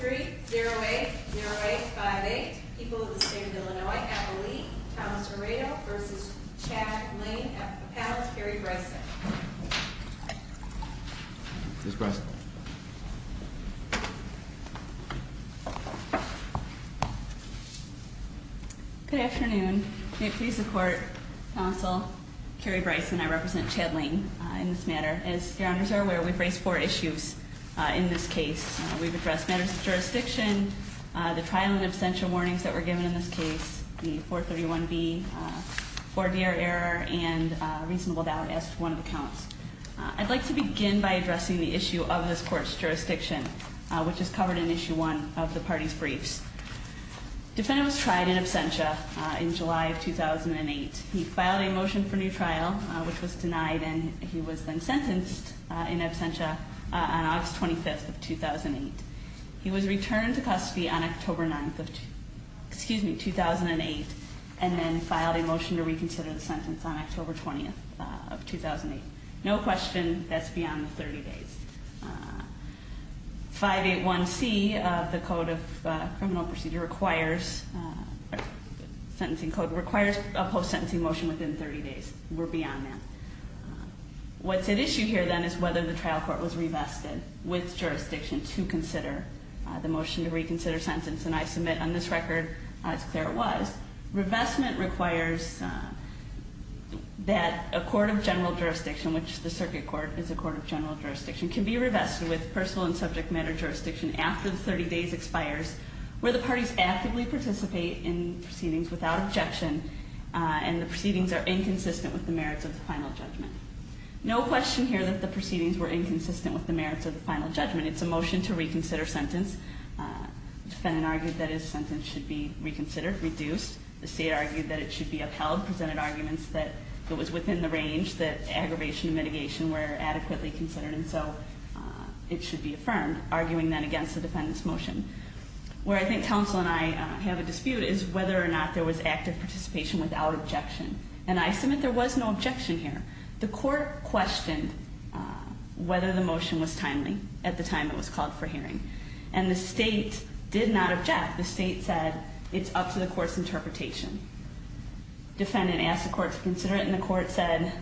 3-0-8-0-8-5-8 People of the State of Illinois, Appalachia, Thomas Moreto v. Chad Lane, Appalachia Council, Carrie Bryson Ms. Bryson Good afternoon. May it please the Court, Council, Carrie Bryson, I represent Chad Lane in this matter. As your honors are aware, we've raised four issues in this case. We've addressed matters of jurisdiction, the trial and absentia warnings that were given in this case, the 431B, 4DR error, and reasonable doubt as to one of the counts. I'd like to begin by addressing the issue of this Court's jurisdiction, which is covered in Issue 1 of the party's briefs. Defendant was tried in absentia in July of 2008. He filed a motion for new trial, which was denied, and he was then sentenced in absentia on August 25th of 2008. He was returned to custody on October 9th of 2008, and then filed a motion to reconsider the sentence on October 20th of 2008. No question that's beyond the 30 days. 581C of the Code of Criminal Procedure requires a post-sentencing motion within 30 days. We're beyond that. What's at issue here, then, is whether the trial court was revested with jurisdiction to consider the motion to reconsider sentence. And I submit on this record, as clear as it was, revestment requires that a court of general jurisdiction, which the circuit court is a court of general jurisdiction, can be revested with personal and subject matter jurisdiction after the 30 days expires, where the parties actively participate in proceedings without objection, and the proceedings are inconsistent with the merits of the final judgment. No question here that the proceedings were inconsistent with the merits of the final judgment. It's a motion to reconsider sentence. The defendant argued that his sentence should be reconsidered, reduced. The state argued that it should be upheld, presented arguments that it was within the range that aggravation and mitigation were adequately considered, and so it should be affirmed, arguing then against the defendant's motion. Where I think counsel and I have a dispute is whether or not there was active participation without objection. And I submit there was no objection here. The court questioned whether the motion was timely at the time it was called for hearing, and the state did not object. The state said it's up to the court's interpretation. Defendant asked the court to consider it, and the court said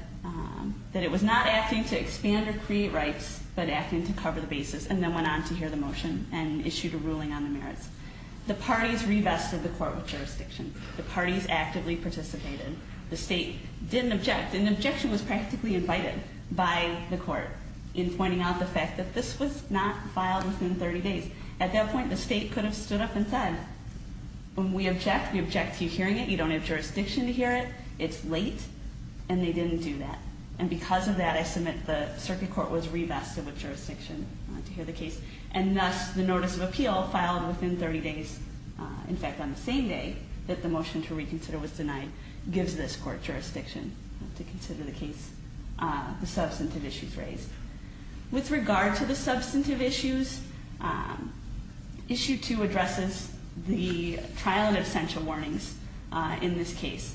that it was not acting to expand or create rights, but acting to cover the basis, and then went on to hear the motion and issued a ruling on the merits. The parties revested the court with jurisdiction. The parties actively participated. The state didn't object, and objection was practically invited by the court in pointing out the fact that this was not filed within 30 days. At that point, the state could have stood up and said, when we object, we object to you hearing it. You don't have jurisdiction to hear it. It's late. And they didn't do that. And because of that, I submit the circuit court was revested with jurisdiction to hear the case. And thus, the notice of appeal filed within 30 days, in fact, on the same day that the motion to reconsider was denied, gives this court jurisdiction to consider the case, the substantive issues raised. With regard to the substantive issues, Issue 2 addresses the trial and absentia warnings in this case.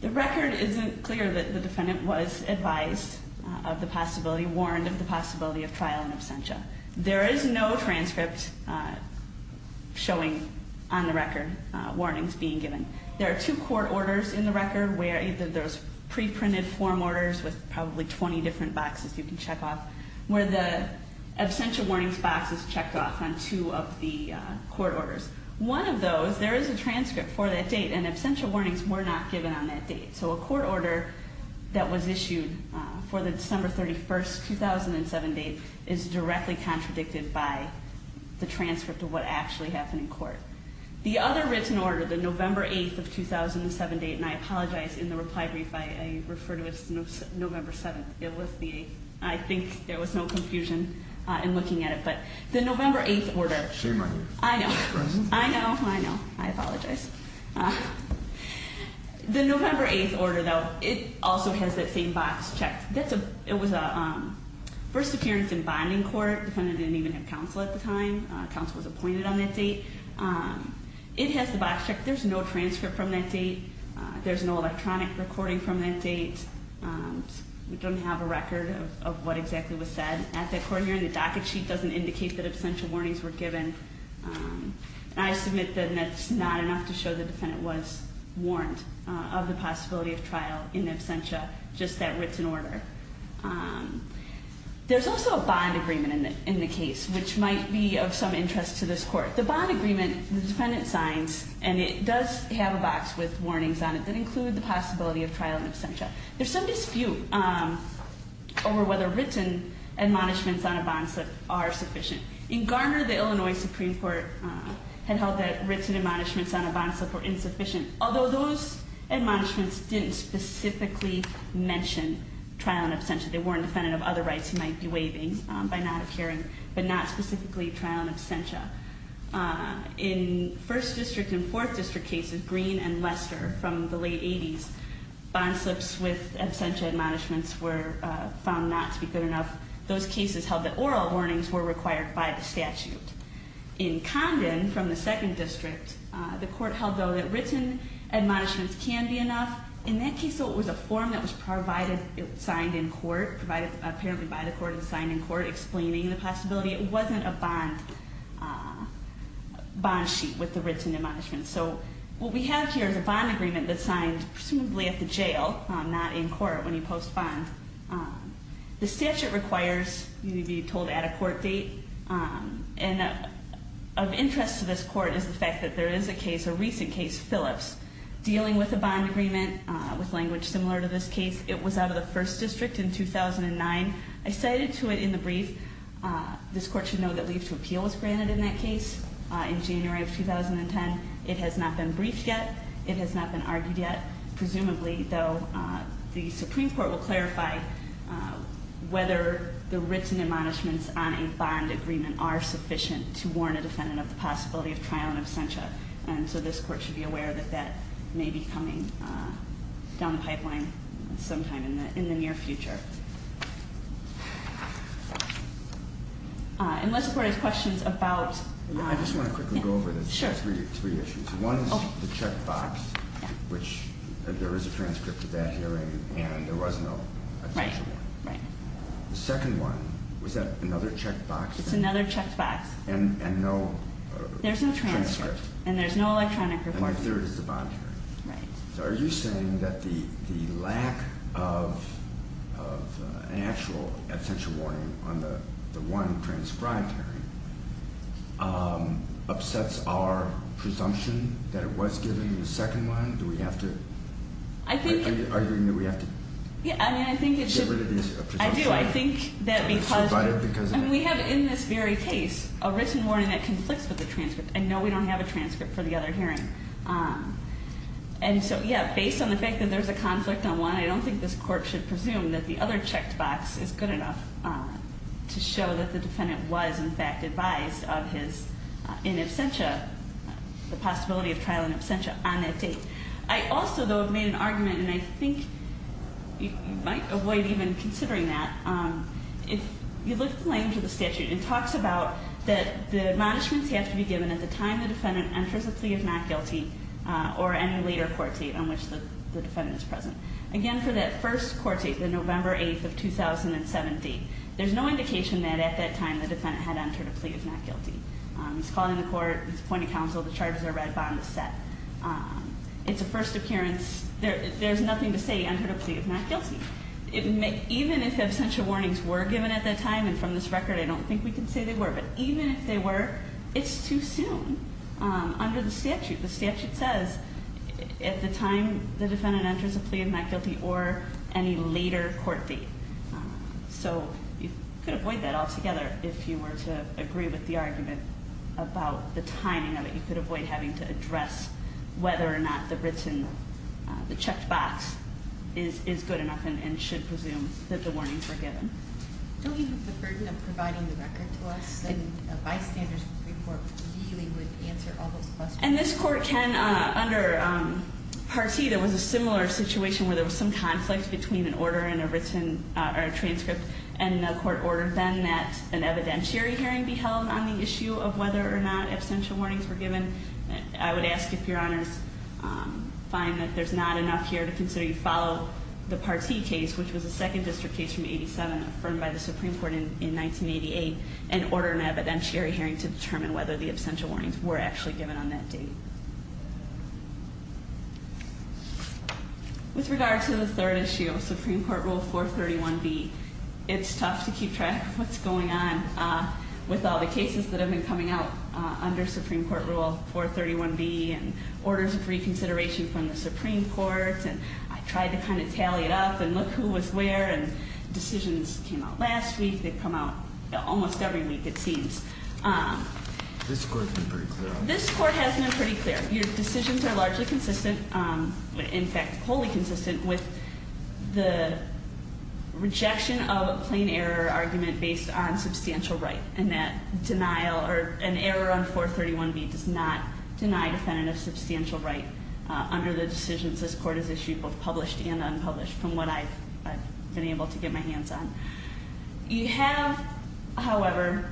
The record isn't clear that the defendant was advised of the possibility, warned of the possibility of trial and absentia. There is no transcript showing on the record warnings being given. There are two court orders in the record where either there's pre-printed form orders with probably 20 different boxes you can check off, where the absentia warnings box is checked off on two of the court orders. One of those, there is a transcript for that date, and absentia warnings were not given on that date. So a court order that was issued for the December 31st, 2007 date is directly contradicted by the transcript of what actually happened in court. The other written order, the November 8th of 2007 date, and I apologize, in the reply brief, I refer to it as November 7th, it was the 8th. I think there was no confusion in looking at it. The November 8th order, I know, I know, I apologize. The November 8th order, though, it also has that same box checked. It was a first appearance in bonding court. The defendant didn't even have counsel at the time. Counsel was appointed on that date. It has the box checked. There's no transcript from that date. There's no electronic recording from that date. We don't have a record of what exactly was said at that court hearing. The docket sheet doesn't indicate that absentia warnings were given. And I submit that that's not enough to show the defendant was warned of the possibility of trial in absentia, just that written order. There's also a bond agreement in the case, which might be of some interest to this court. The bond agreement, the defendant signs, and it does have a box with warnings on it that include the possibility of trial in absentia. There's some dispute over whether written admonishments on a bond slip are sufficient. In Garner, the Illinois Supreme Court had held that written admonishments on a bond slip were insufficient, although those admonishments didn't specifically mention trial in absentia. They weren't defendant of other rights he might be waiving by not appearing, but not specifically trial in absentia. In First District and Fourth District cases, Green and Lester, from the late 80s, bond slips with absentia admonishments were found not to be good enough. Those cases held that oral warnings were required by the statute. In Condon, from the Second District, the court held, though, that written admonishments can be enough. In that case, though, it was a form that was provided, signed in court, provided apparently by the court and signed in court, explaining the possibility it wasn't a bond sheet with the written admonishments. So what we have here is a bond agreement that's signed presumably at the jail, not in court when you post bond. The statute requires you to be told at a court date, and of interest to this court is the fact that there is a case, a recent case, Phillips, dealing with a bond agreement with language similar to this case. It was out of the First District in 2009. I cited to it in the brief. This court should know that leave to appeal was granted in that case in January of 2010. It has not been briefed yet. It has not been argued yet. Presumably, though, the Supreme Court will clarify whether the written admonishments on a bond agreement are sufficient to warn a defendant of the possibility of trial in absentia. And so this court should be aware that that may be coming down the pipeline sometime in the near future. Okay. Unless the court has questions about... I just want to quickly go over three issues. One is the checkbox, which there is a transcript of that hearing and there was no... Right. The second one, was that another checkbox? It's another checkbox. And no... There's no transcript. And there's no electronic report. And my third is the bond agreement. Right. So are you saying that the lack of an actual absentia warning on the one transcribed hearing upsets our presumption that it was given in the second one? Do we have to... I think... Are you arguing that we have to... Yeah, I mean, I think it should... Get rid of these presumptions. I do. I think that because... I mean, we have in this very case a written warning that conflicts with the transcript. I know we don't have a transcript for the other hearing. And so, yeah, based on the fact that there's a conflict on one, I don't think this court should presume that the other checkbox is good enough to show that the defendant was, in fact, advised of his in absentia... The possibility of trial in absentia on that date. I also, though, have made an argument, and I think you might avoid even considering that. If you look at the language of the statute, it talks about that the admonishments have to be given at the time the defendant enters a plea of not guilty or any later court date on which the defendant is present. Again, for that first court date, the November 8th of 2017, there's no indication that at that time the defendant had entered a plea of not guilty. He's calling the court, he's appointing counsel, the charges are read, bond is set. It's a first appearance. There's nothing to say he entered a plea of not guilty. Even if absentia warnings were given at that time, and from this record I don't think we can say they were, but even if they were, it's too soon under the statute. The statute says at the time the defendant enters a plea of not guilty or any later court date. So you could avoid that altogether if you were to agree with the argument about the timing of it. You could avoid having to address whether or not the written, the checked box is good enough and should presume that the warnings were given. Don't you have the burden of providing the record to us? A bystander's report really would answer all those questions. And this court can, under Part C, there was a similar situation where there was some conflict between an order and a written, or a transcript and a court order. Then that an evidentiary hearing be held on the issue of whether or not absentia warnings were given. I would ask if your honors find that there's not enough here to consider you follow the Part C case, which was a second district case from 87, affirmed by the Supreme Court in 1988, and order an evidentiary hearing to determine whether the absentia warnings were actually given on that date. With regard to the third issue, Supreme Court Rule 431B, it's tough to keep track of what's going on with all the cases that have been coming out under Supreme Court Rule 431B and orders of reconsideration from the Supreme Court. And I tried to kind of tally it up and look who was where. And decisions came out last week. They come out almost every week, it seems. This court has been pretty clear on that. Your decisions are largely consistent, in fact, wholly consistent with the rejection of a plain error argument based on substantial right. And that denial, or an error on 431B does not deny a defendant a substantial right under the decisions this court has issued, both published and unpublished, from what I've been able to get my hands on. You have, however,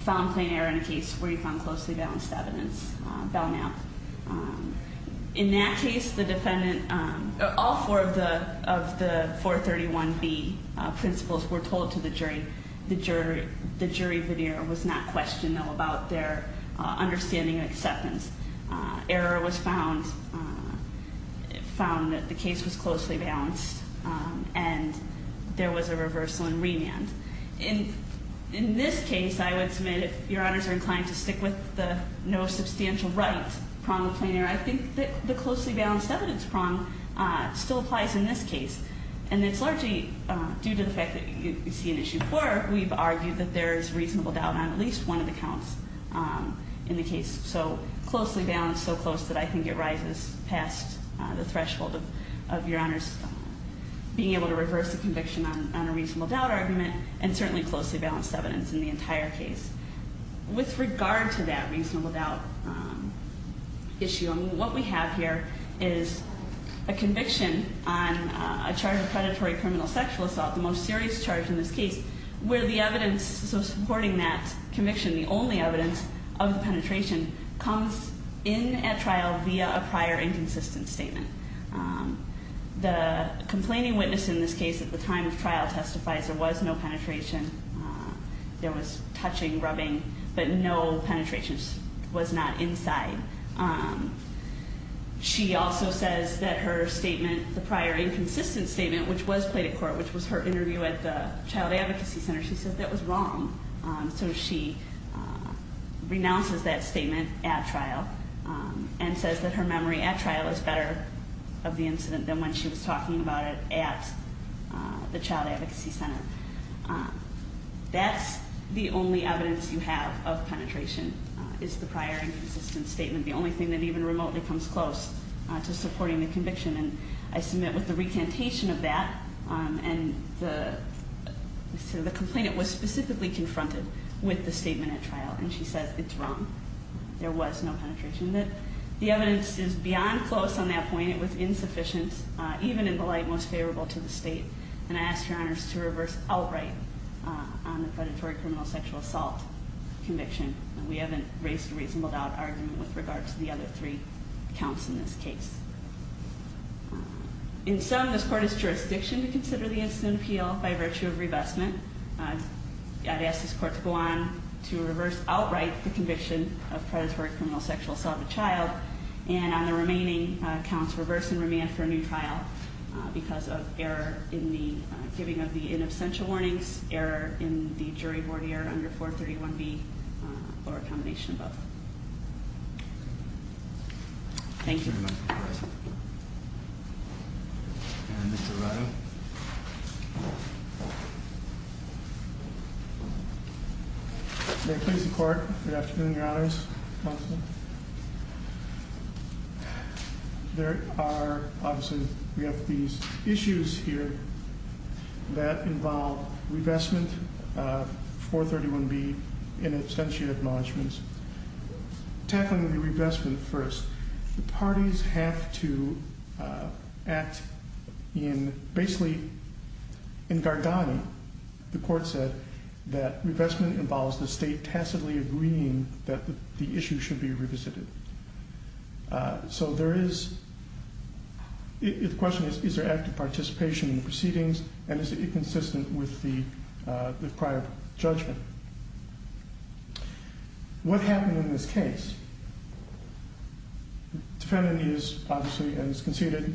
found plain error in a case where you found closely balanced evidence found out. In that case, the defendant, all four of the 431B principles were told to the jury. The jury veneer was not questionable about their understanding and acceptance. Error was found, found that the case was closely balanced, and there was a reversal and remand. In this case, I would submit, if Your Honors are inclined to stick with the no substantial right prong of plain error, I think that the closely balanced evidence prong still applies in this case. And it's largely due to the fact that you see an issue 4, we've argued that there is reasonable doubt on at least one of the counts in the case. So closely balanced, so close that I think it rises past the threshold of Your Honors being able to reverse the conviction on a reasonable doubt argument, and certainly closely balanced evidence in the entire case. With regard to that reasonable doubt issue, what we have here is a conviction on a charge of predatory criminal sexual assault, the most serious charge in this case, where the evidence supporting that conviction, the only evidence of the penetration, comes in at trial via a prior inconsistent statement. The complaining witness in this case at the time of trial testifies there was no penetration. There was touching, rubbing, but no penetration was not inside. She also says that her statement, the prior inconsistent statement, which was played at court, which was her interview at the Child Advocacy Center, she said that was wrong. So she renounces that statement at trial and says that her memory at trial is better of the incident than when she was talking about it at the Child Advocacy Center. That's the only evidence you have of penetration, is the prior inconsistent statement, the only thing that even remotely comes close to supporting the conviction. And I submit with the recantation of that, and the complainant was specifically confronted with the statement at trial, and she says it's wrong. There was no penetration. The evidence is beyond close on that point. It was insufficient, even in the light most favorable to the State. And I ask your honors to reverse outright on the predatory criminal sexual assault conviction. We haven't raised a reasonable doubt argument with regard to the other three counts in this case. In sum, this court is jurisdiction to consider the incident appeal by virtue of revestment. I'd ask this court to go on to reverse outright the conviction of predatory criminal sexual assault of a child, and on the remaining counts, reverse and remand for a new trial because of error in the giving of the in absentia warnings, error in the jury board error under 431B, or a combination of both. Thank you. Thank you very much. And Mr. Rado. May it please the court. Good afternoon, your honors. Counsel. There are, obviously, we have these issues here that involve revestment of 431B in absentia acknowledgments. Tackling the revestment first, the parties have to act in, basically, in Gargani. The court said that revestment involves the State tacitly agreeing that the issue should be revisited. So there is, the question is, is there active participation in the proceedings, and is it inconsistent with the prior judgment? What happened in this case? Defendant is, obviously, as conceded,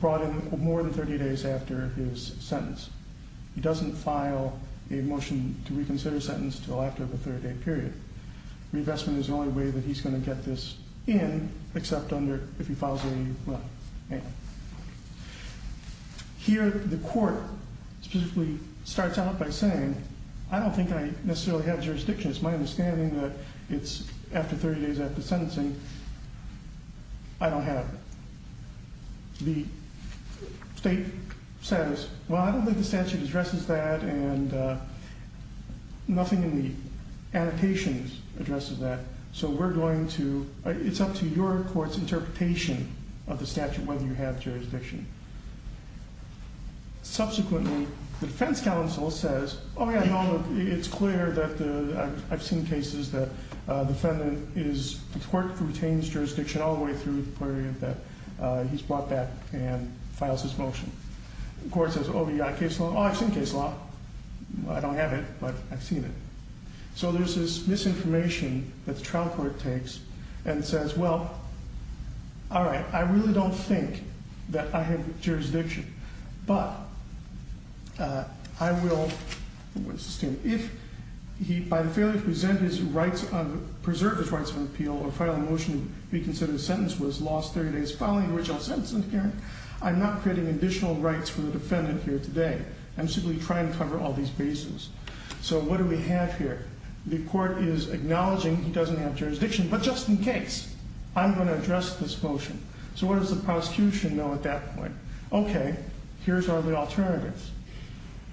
brought in more than 30 days after his sentence. He doesn't file a motion to reconsider sentence until after the 30-day period. Revestment is the only way that he's going to get this in, except under, if he files a, well, amendment. Here, the court specifically starts out by saying, I don't think I necessarily have jurisdiction. It's my understanding that it's after 30 days after sentencing. I don't have it. The State says, well, I don't think the statute addresses that, and nothing in the annotations addresses that. So we're going to, it's up to your court's interpretation of the statute whether you have jurisdiction. Subsequently, the defense counsel says, oh yeah, no, it's clear that I've seen cases that the defendant is, the court retains jurisdiction all the way through the period that he's brought back and files his motion. The court says, oh, you got a case law? Oh, I've seen a case law. I don't have it, but I've seen it. So there's this misinformation that the trial court takes and says, well, all right, I really don't think that I have jurisdiction. But I will, if he, by the failure to present his rights of, preserve his rights of appeal or file a motion to be considered a sentence was lost 30 days following the original sentencing hearing, I'm not creating additional rights for the defendant here today. I'm simply trying to cover all these bases. So what do we have here? The court is acknowledging he doesn't have jurisdiction, but just in case, I'm going to address this motion. So what does the prosecution know at that point? Okay, here's all the alternatives.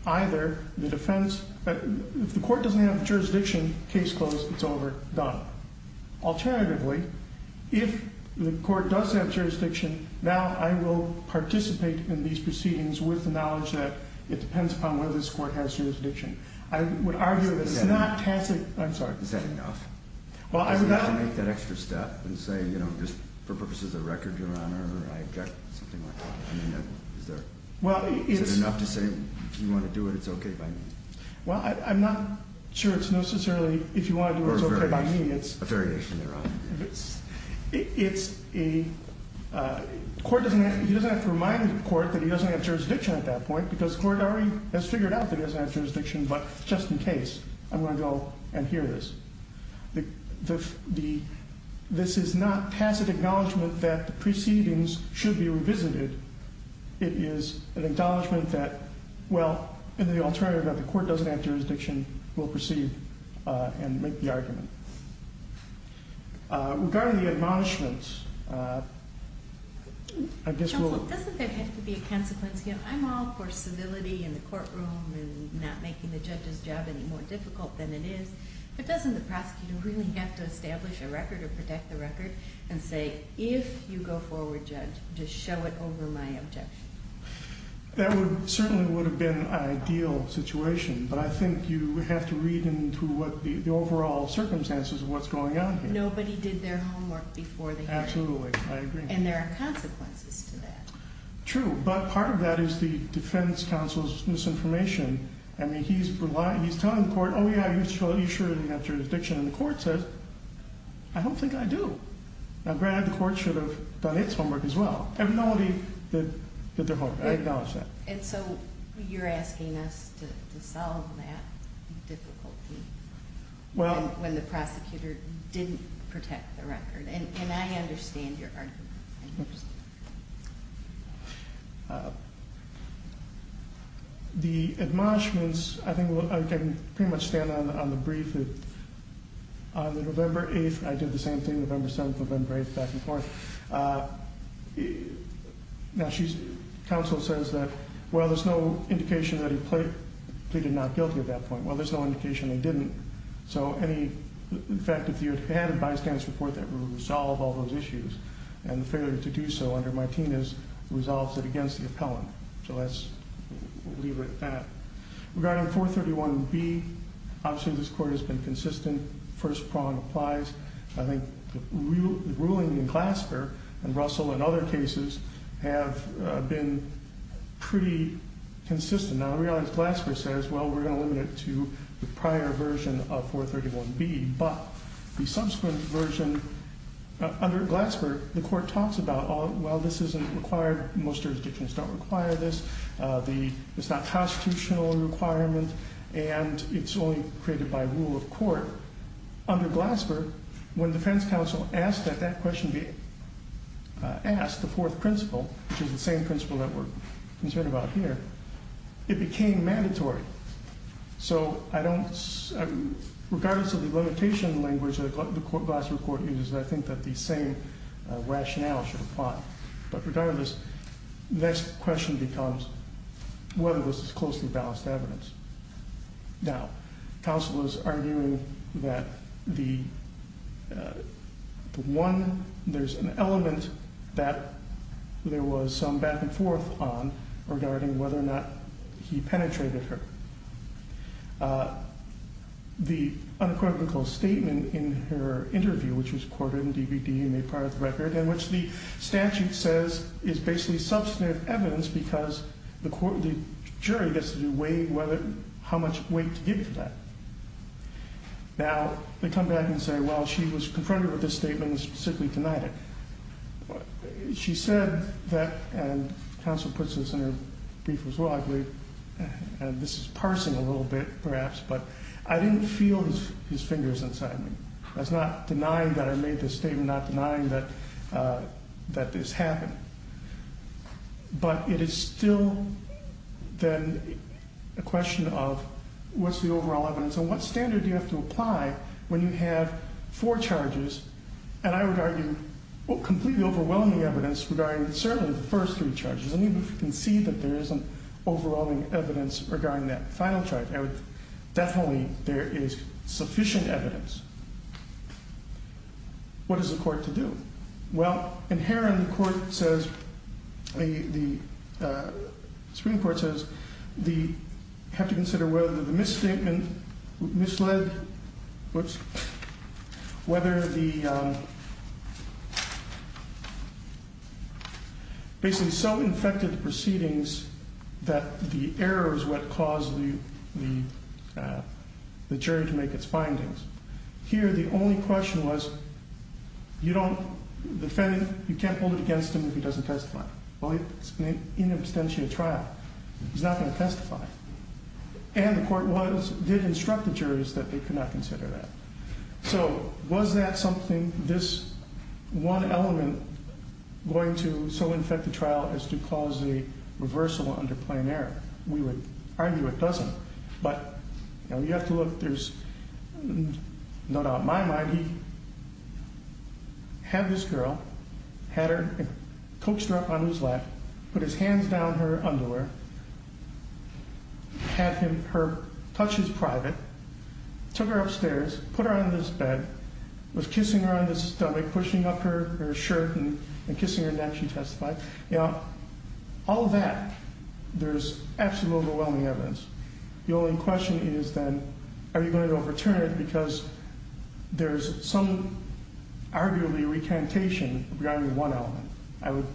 Either the defense, if the court doesn't have jurisdiction, case closed, it's over, done. Alternatively, if the court does have jurisdiction, now I will participate in these proceedings with the knowledge that it depends upon whether this court has jurisdiction. I would argue that it's not tacit, I'm sorry. Is that enough? Well, I would. To make that extra step and say, you know, just for purposes of record, your honor, I object, something like that. Is there enough to say, if you want to do it, it's okay by me? Well, I'm not sure it's necessarily, if you want to do it, it's okay by me. Or a variation, a variation, your honor. It's a, court doesn't have to, he doesn't have to remind the court that he doesn't have jurisdiction at that point, because court already has figured out that he doesn't have jurisdiction, but just in case, I'm going to go and hear this. The, this is not tacit acknowledgment that the proceedings should be revisited. It is an acknowledgment that, well, in the alternative that the court doesn't have jurisdiction, we'll proceed and make the argument. Regarding the admonishments, I guess we'll... Doesn't the prosecutor really have to establish a record or protect the record and say, if you go forward, judge, just show it over my objection? That would, certainly would have been an ideal situation, but I think you have to read into what the overall circumstances of what's going on here. Nobody did their homework before the hearing. Absolutely, I agree. And there are consequences to that. True, but part of that is the defense counsel's misinformation. I mean, he's relying, he's telling the court, oh yeah, you should have jurisdiction. And the court says, I don't think I do. Now, granted, the court should have done its homework as well. But nobody did their homework. I acknowledge that. And so, you're asking us to solve that difficulty when the prosecutor didn't protect the record. And I understand your argument. The admonishments, I think I can pretty much stand on the brief that on the November 8th, I did the same thing, November 7th, November 8th, back and forth. Now, counsel says that, well, there's no indication that he pleaded not guilty at that point. Well, there's no indication that he didn't. So any, in fact, if you had a bystander's report, that would resolve all those issues. And the failure to do so under Martinez resolves it against the appellant. So let's leave it at that. Regarding 431B, obviously this court has been consistent. First prong applies. I think the ruling in Glasper and Russell and other cases have been pretty consistent. Now, I realize Glasper says, well, we're going to limit it to the prior version of 431B. But the subsequent version, under Glasper, the court talks about, well, this isn't required. Most jurisdictions don't require this. It's not a constitutional requirement. However, under Glasper, when defense counsel asked that that question be asked, the fourth principle, which is the same principle that we're concerned about here, it became mandatory. So I don't, regardless of the limitation language that the Glasper court uses, I think that the same rationale should apply. But regardless, the next question becomes whether this is closely balanced evidence. Now, counsel is arguing that there's an element that there was some back and forth on regarding whether or not he penetrated her. The unequivocal statement in her interview, which was quoted in the DVD and made part of the record, and which the statute says is basically substantive evidence because the jury gets to weigh how much weight to give to that. Now, they come back and say, well, she was confronted with this statement and specifically denied it. She said that, and counsel puts this in her brief as well, I believe, and this is parsing a little bit, perhaps, but I didn't feel his fingers inside me. I was not denying that I made this statement, not denying that this happened. But it is still then a question of what's the overall evidence and what standard do you have to apply when you have four charges, and I would argue completely overwhelming evidence regarding certainly the first three charges. I mean, you can see that there isn't overwhelming evidence regarding that final charge. Definitely there is sufficient evidence. What is the court to do? Well, inherently the Supreme Court says you have to consider whether the misstatement misled, whoops, whether the, basically so infected the proceedings that the error is what caused the jury to make its findings. Here the only question was you don't, the defendant, you can't hold it against him if he doesn't testify. Well, it's an in absentia trial. He's not going to testify. And the court did instruct the jurors that they could not consider that. So was that something, this one element, going to so infect the trial as to cause a reversal under plain error? We would argue it doesn't, but you have to look. There's, no doubt in my mind, he had this girl, had her coaxed her up on his lap, put his hands down her underwear, had her touch his private, took her upstairs, put her on this bed, was kissing her on the stomach, pushing up her shirt and kissing her neck, she testified. Now, all of that, there's absolutely overwhelming evidence. The only question is then, are you going to overturn it? Because there's some arguably recantation regarding one element. I would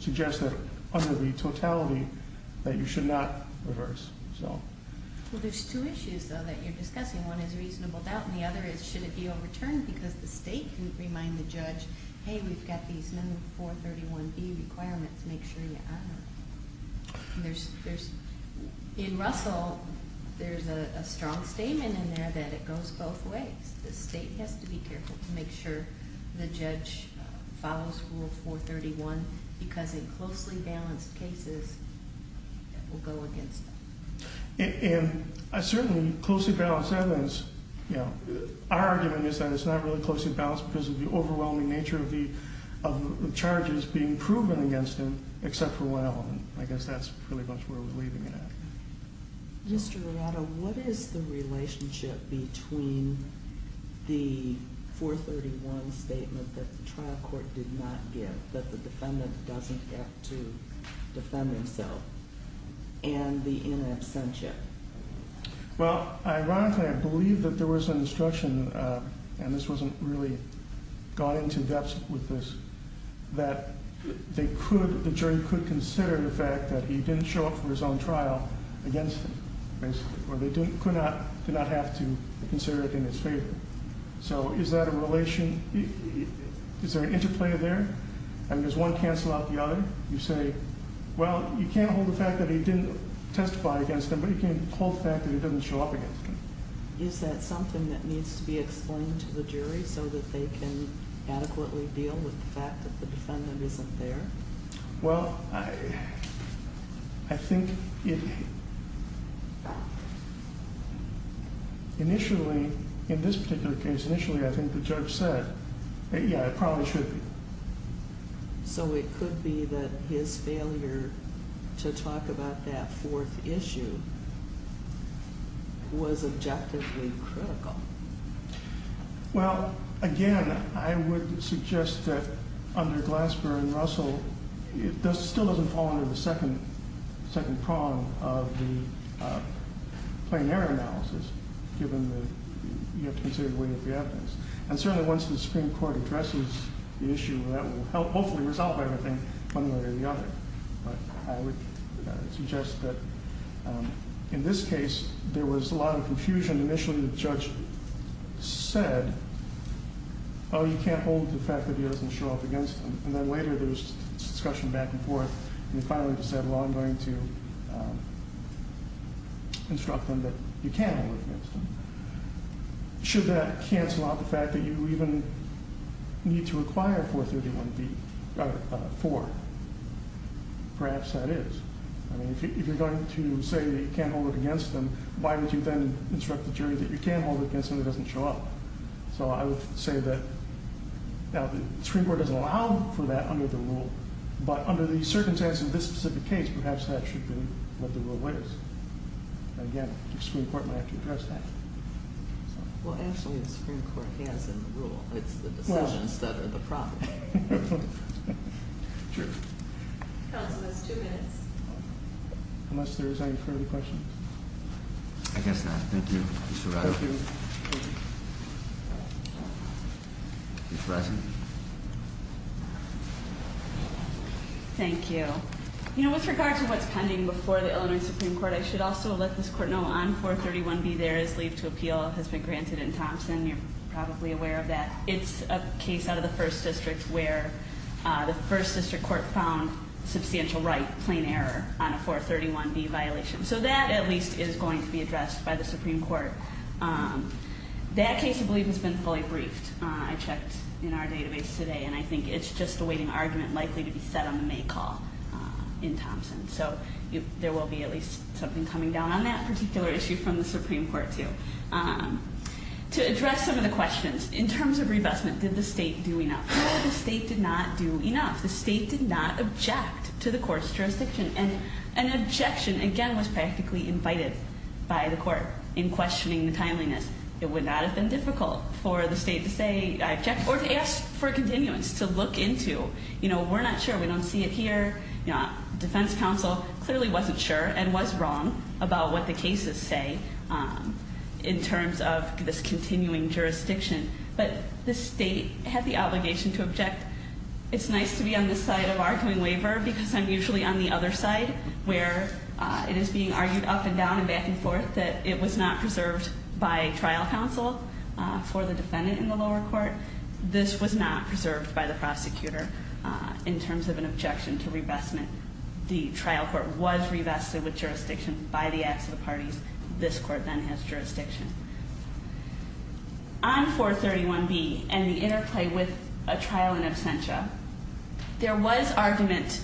suggest that under the totality that you should not reverse, so. Well, there's two issues, though, that you're discussing. One is reasonable doubt, and the other is should it be overturned because the state didn't remind the judge, hey, we've got these number 431B requirements, make sure you honor them. In Russell, there's a strong statement in there that it goes both ways. The state has to be careful to make sure the judge follows Rule 431 because in closely balanced cases, it will go against them. And certainly, closely balanced evidence, you know, our argument is that it's not really closely balanced because of the overwhelming nature of the charges being proven against him except for one element. I guess that's pretty much where we're leaving it at. Mr. Arado, what is the relationship between the 431 statement that the trial court did not give, that the defendant doesn't get to defend himself, and the in absentia? Well, ironically, I believe that there was an instruction, and this wasn't really gone into depth with this, that the jury could consider the fact that he didn't show up for his own trial against him, basically, or they could not have to consider it in his favor. So is that a relation? Is there an interplay there? I mean, does one cancel out the other? You say, well, you can't hold the fact that he didn't testify against him, but you can hold the fact that he doesn't show up against him. Is that something that needs to be explained to the jury so that they can adequately deal with the fact that the defendant isn't there? Well, I think it initially, in this particular case, initially I think the judge said, yeah, it probably should be. So it could be that his failure to talk about that fourth issue was objectively critical. Well, again, I would suggest that under Glasper and Russell, it still doesn't fall under the second prong of the plain error analysis, given that you have to consider the weight of the evidence. And certainly once the Supreme Court addresses the issue, that will hopefully resolve everything one way or the other. But I would suggest that in this case there was a lot of confusion. Initially the judge said, oh, you can't hold the fact that he doesn't show up against him. And then later there was discussion back and forth, and he finally decided, well, I'm going to instruct him that you can hold it against him. Should that cancel out the fact that you even need to require 431B, or 4? Perhaps that is. I mean, if you're going to say that you can't hold it against him, why would you then instruct the jury that you can hold it against him if he doesn't show up? So I would say that the Supreme Court doesn't allow for that under the rule, but under the circumstances of this specific case, perhaps that should be what the rule is. But again, the Supreme Court might have to address that. Well, actually the Supreme Court has the rule. It's the decisions that are the problem. True. Counsel, that's two minutes. Unless there is any further questions. I guess not. Thank you. Ms. Ferrazzi. Ms. Ferrazzi. Thank you. You know, with regard to what's pending before the Illinois Supreme Court, I should also let this Court know on 431B, there is leave to appeal. It has been granted in Thompson. You're probably aware of that. It's a case out of the First District where the First District Court found substantial right, plain error, on a 431B violation. So that, at least, is going to be addressed by the Supreme Court. That case, I believe, has been fully briefed. I checked in our database today, and I think it's just a waiting argument likely to be set on the May call in Thompson. So there will be at least something coming down on that particular issue from the Supreme Court, too. To address some of the questions, in terms of revestment, did the State do enough? No, the State did not do enough. The State did not object to the Court's jurisdiction. And an objection, again, was practically invited by the Court in questioning the timeliness. It would not have been difficult for the State to say, I object, or to ask for a continuance, to look into. You know, we're not sure. We don't see it here. Defense counsel clearly wasn't sure and was wrong about what the cases say in terms of this continuing jurisdiction. But the State had the obligation to object. It's nice to be on this side of arguing waiver because I'm usually on the other side where it is being argued up and down and back and forth that it was not preserved by trial counsel for the defendant in the lower court. This was not preserved by the prosecutor in terms of an objection to revestment. The trial court was revested with jurisdiction by the acts of the parties. This court then has jurisdiction. On 431B and the interplay with a trial in absentia, there was argument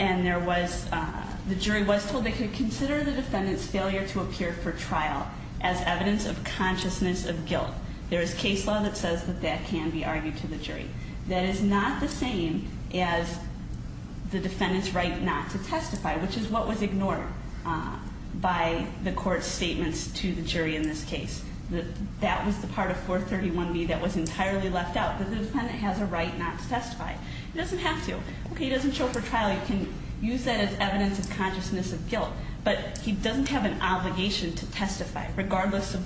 and the jury was told they could consider the defendant's failure to appear for trial as evidence of consciousness of guilt. There is case law that says that that can be argued to the jury. That is not the same as the defendant's right not to testify, which is what was ignored by the Court's statements to the jury in this case. That was the part of 431B that was entirely left out. The defendant has a right not to testify. He doesn't have to. Okay, he doesn't show for trial. You can use that as evidence of consciousness of guilt. But he doesn't have an obligation to testify regardless of,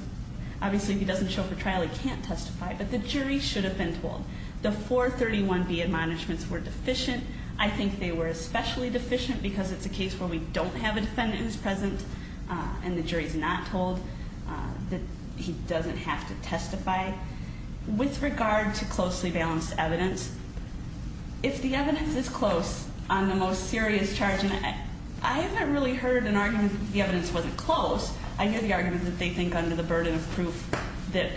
obviously, if he doesn't show for trial, he can't testify. But the jury should have been told. The 431B admonishments were deficient. I think they were especially deficient because it's a case where we don't have a defendant who's present and the jury's not told that he doesn't have to testify. With regard to closely balanced evidence, if the evidence is close on the most serious charge, and I haven't really heard an argument that the evidence wasn't close. I hear the argument that they think under the burden of proof that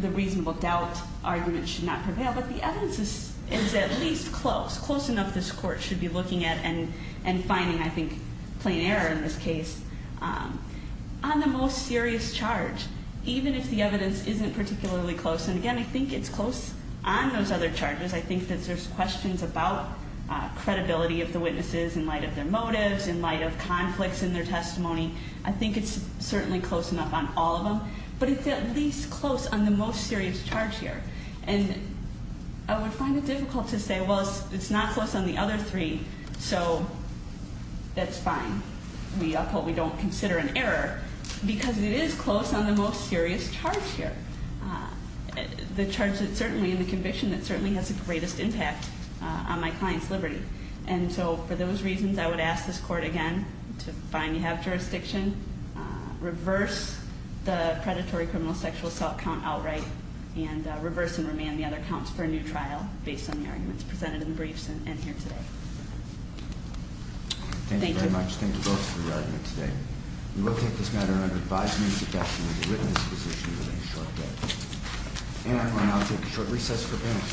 the reasonable doubt argument should not prevail. But the evidence is at least close, close enough this Court should be looking at and finding, I think, plain error in this case. On the most serious charge, even if the evidence isn't particularly close. And again, I think it's close on those other charges. I think that there's questions about credibility of the witnesses in light of their motives, in light of conflicts in their testimony. I think it's certainly close enough on all of them. But it's at least close on the most serious charge here. And I would find it difficult to say, well, it's not close on the other three, so that's fine. We hope we don't consider an error, because it is close on the most serious charge here. The charge that certainly, and the conviction that certainly has the greatest impact on my client's liberty. And so for those reasons, I would ask this Court again to find you have jurisdiction, reverse the predatory criminal sexual assault count outright, and reverse and remand the other counts for a new trial based on the arguments presented in the briefs and here today. Thank you. Thank you very much. Thank you both for your argument today. We will take this matter under advisement and suggestion of the witness position within a short day. And I will now take a short recess for business.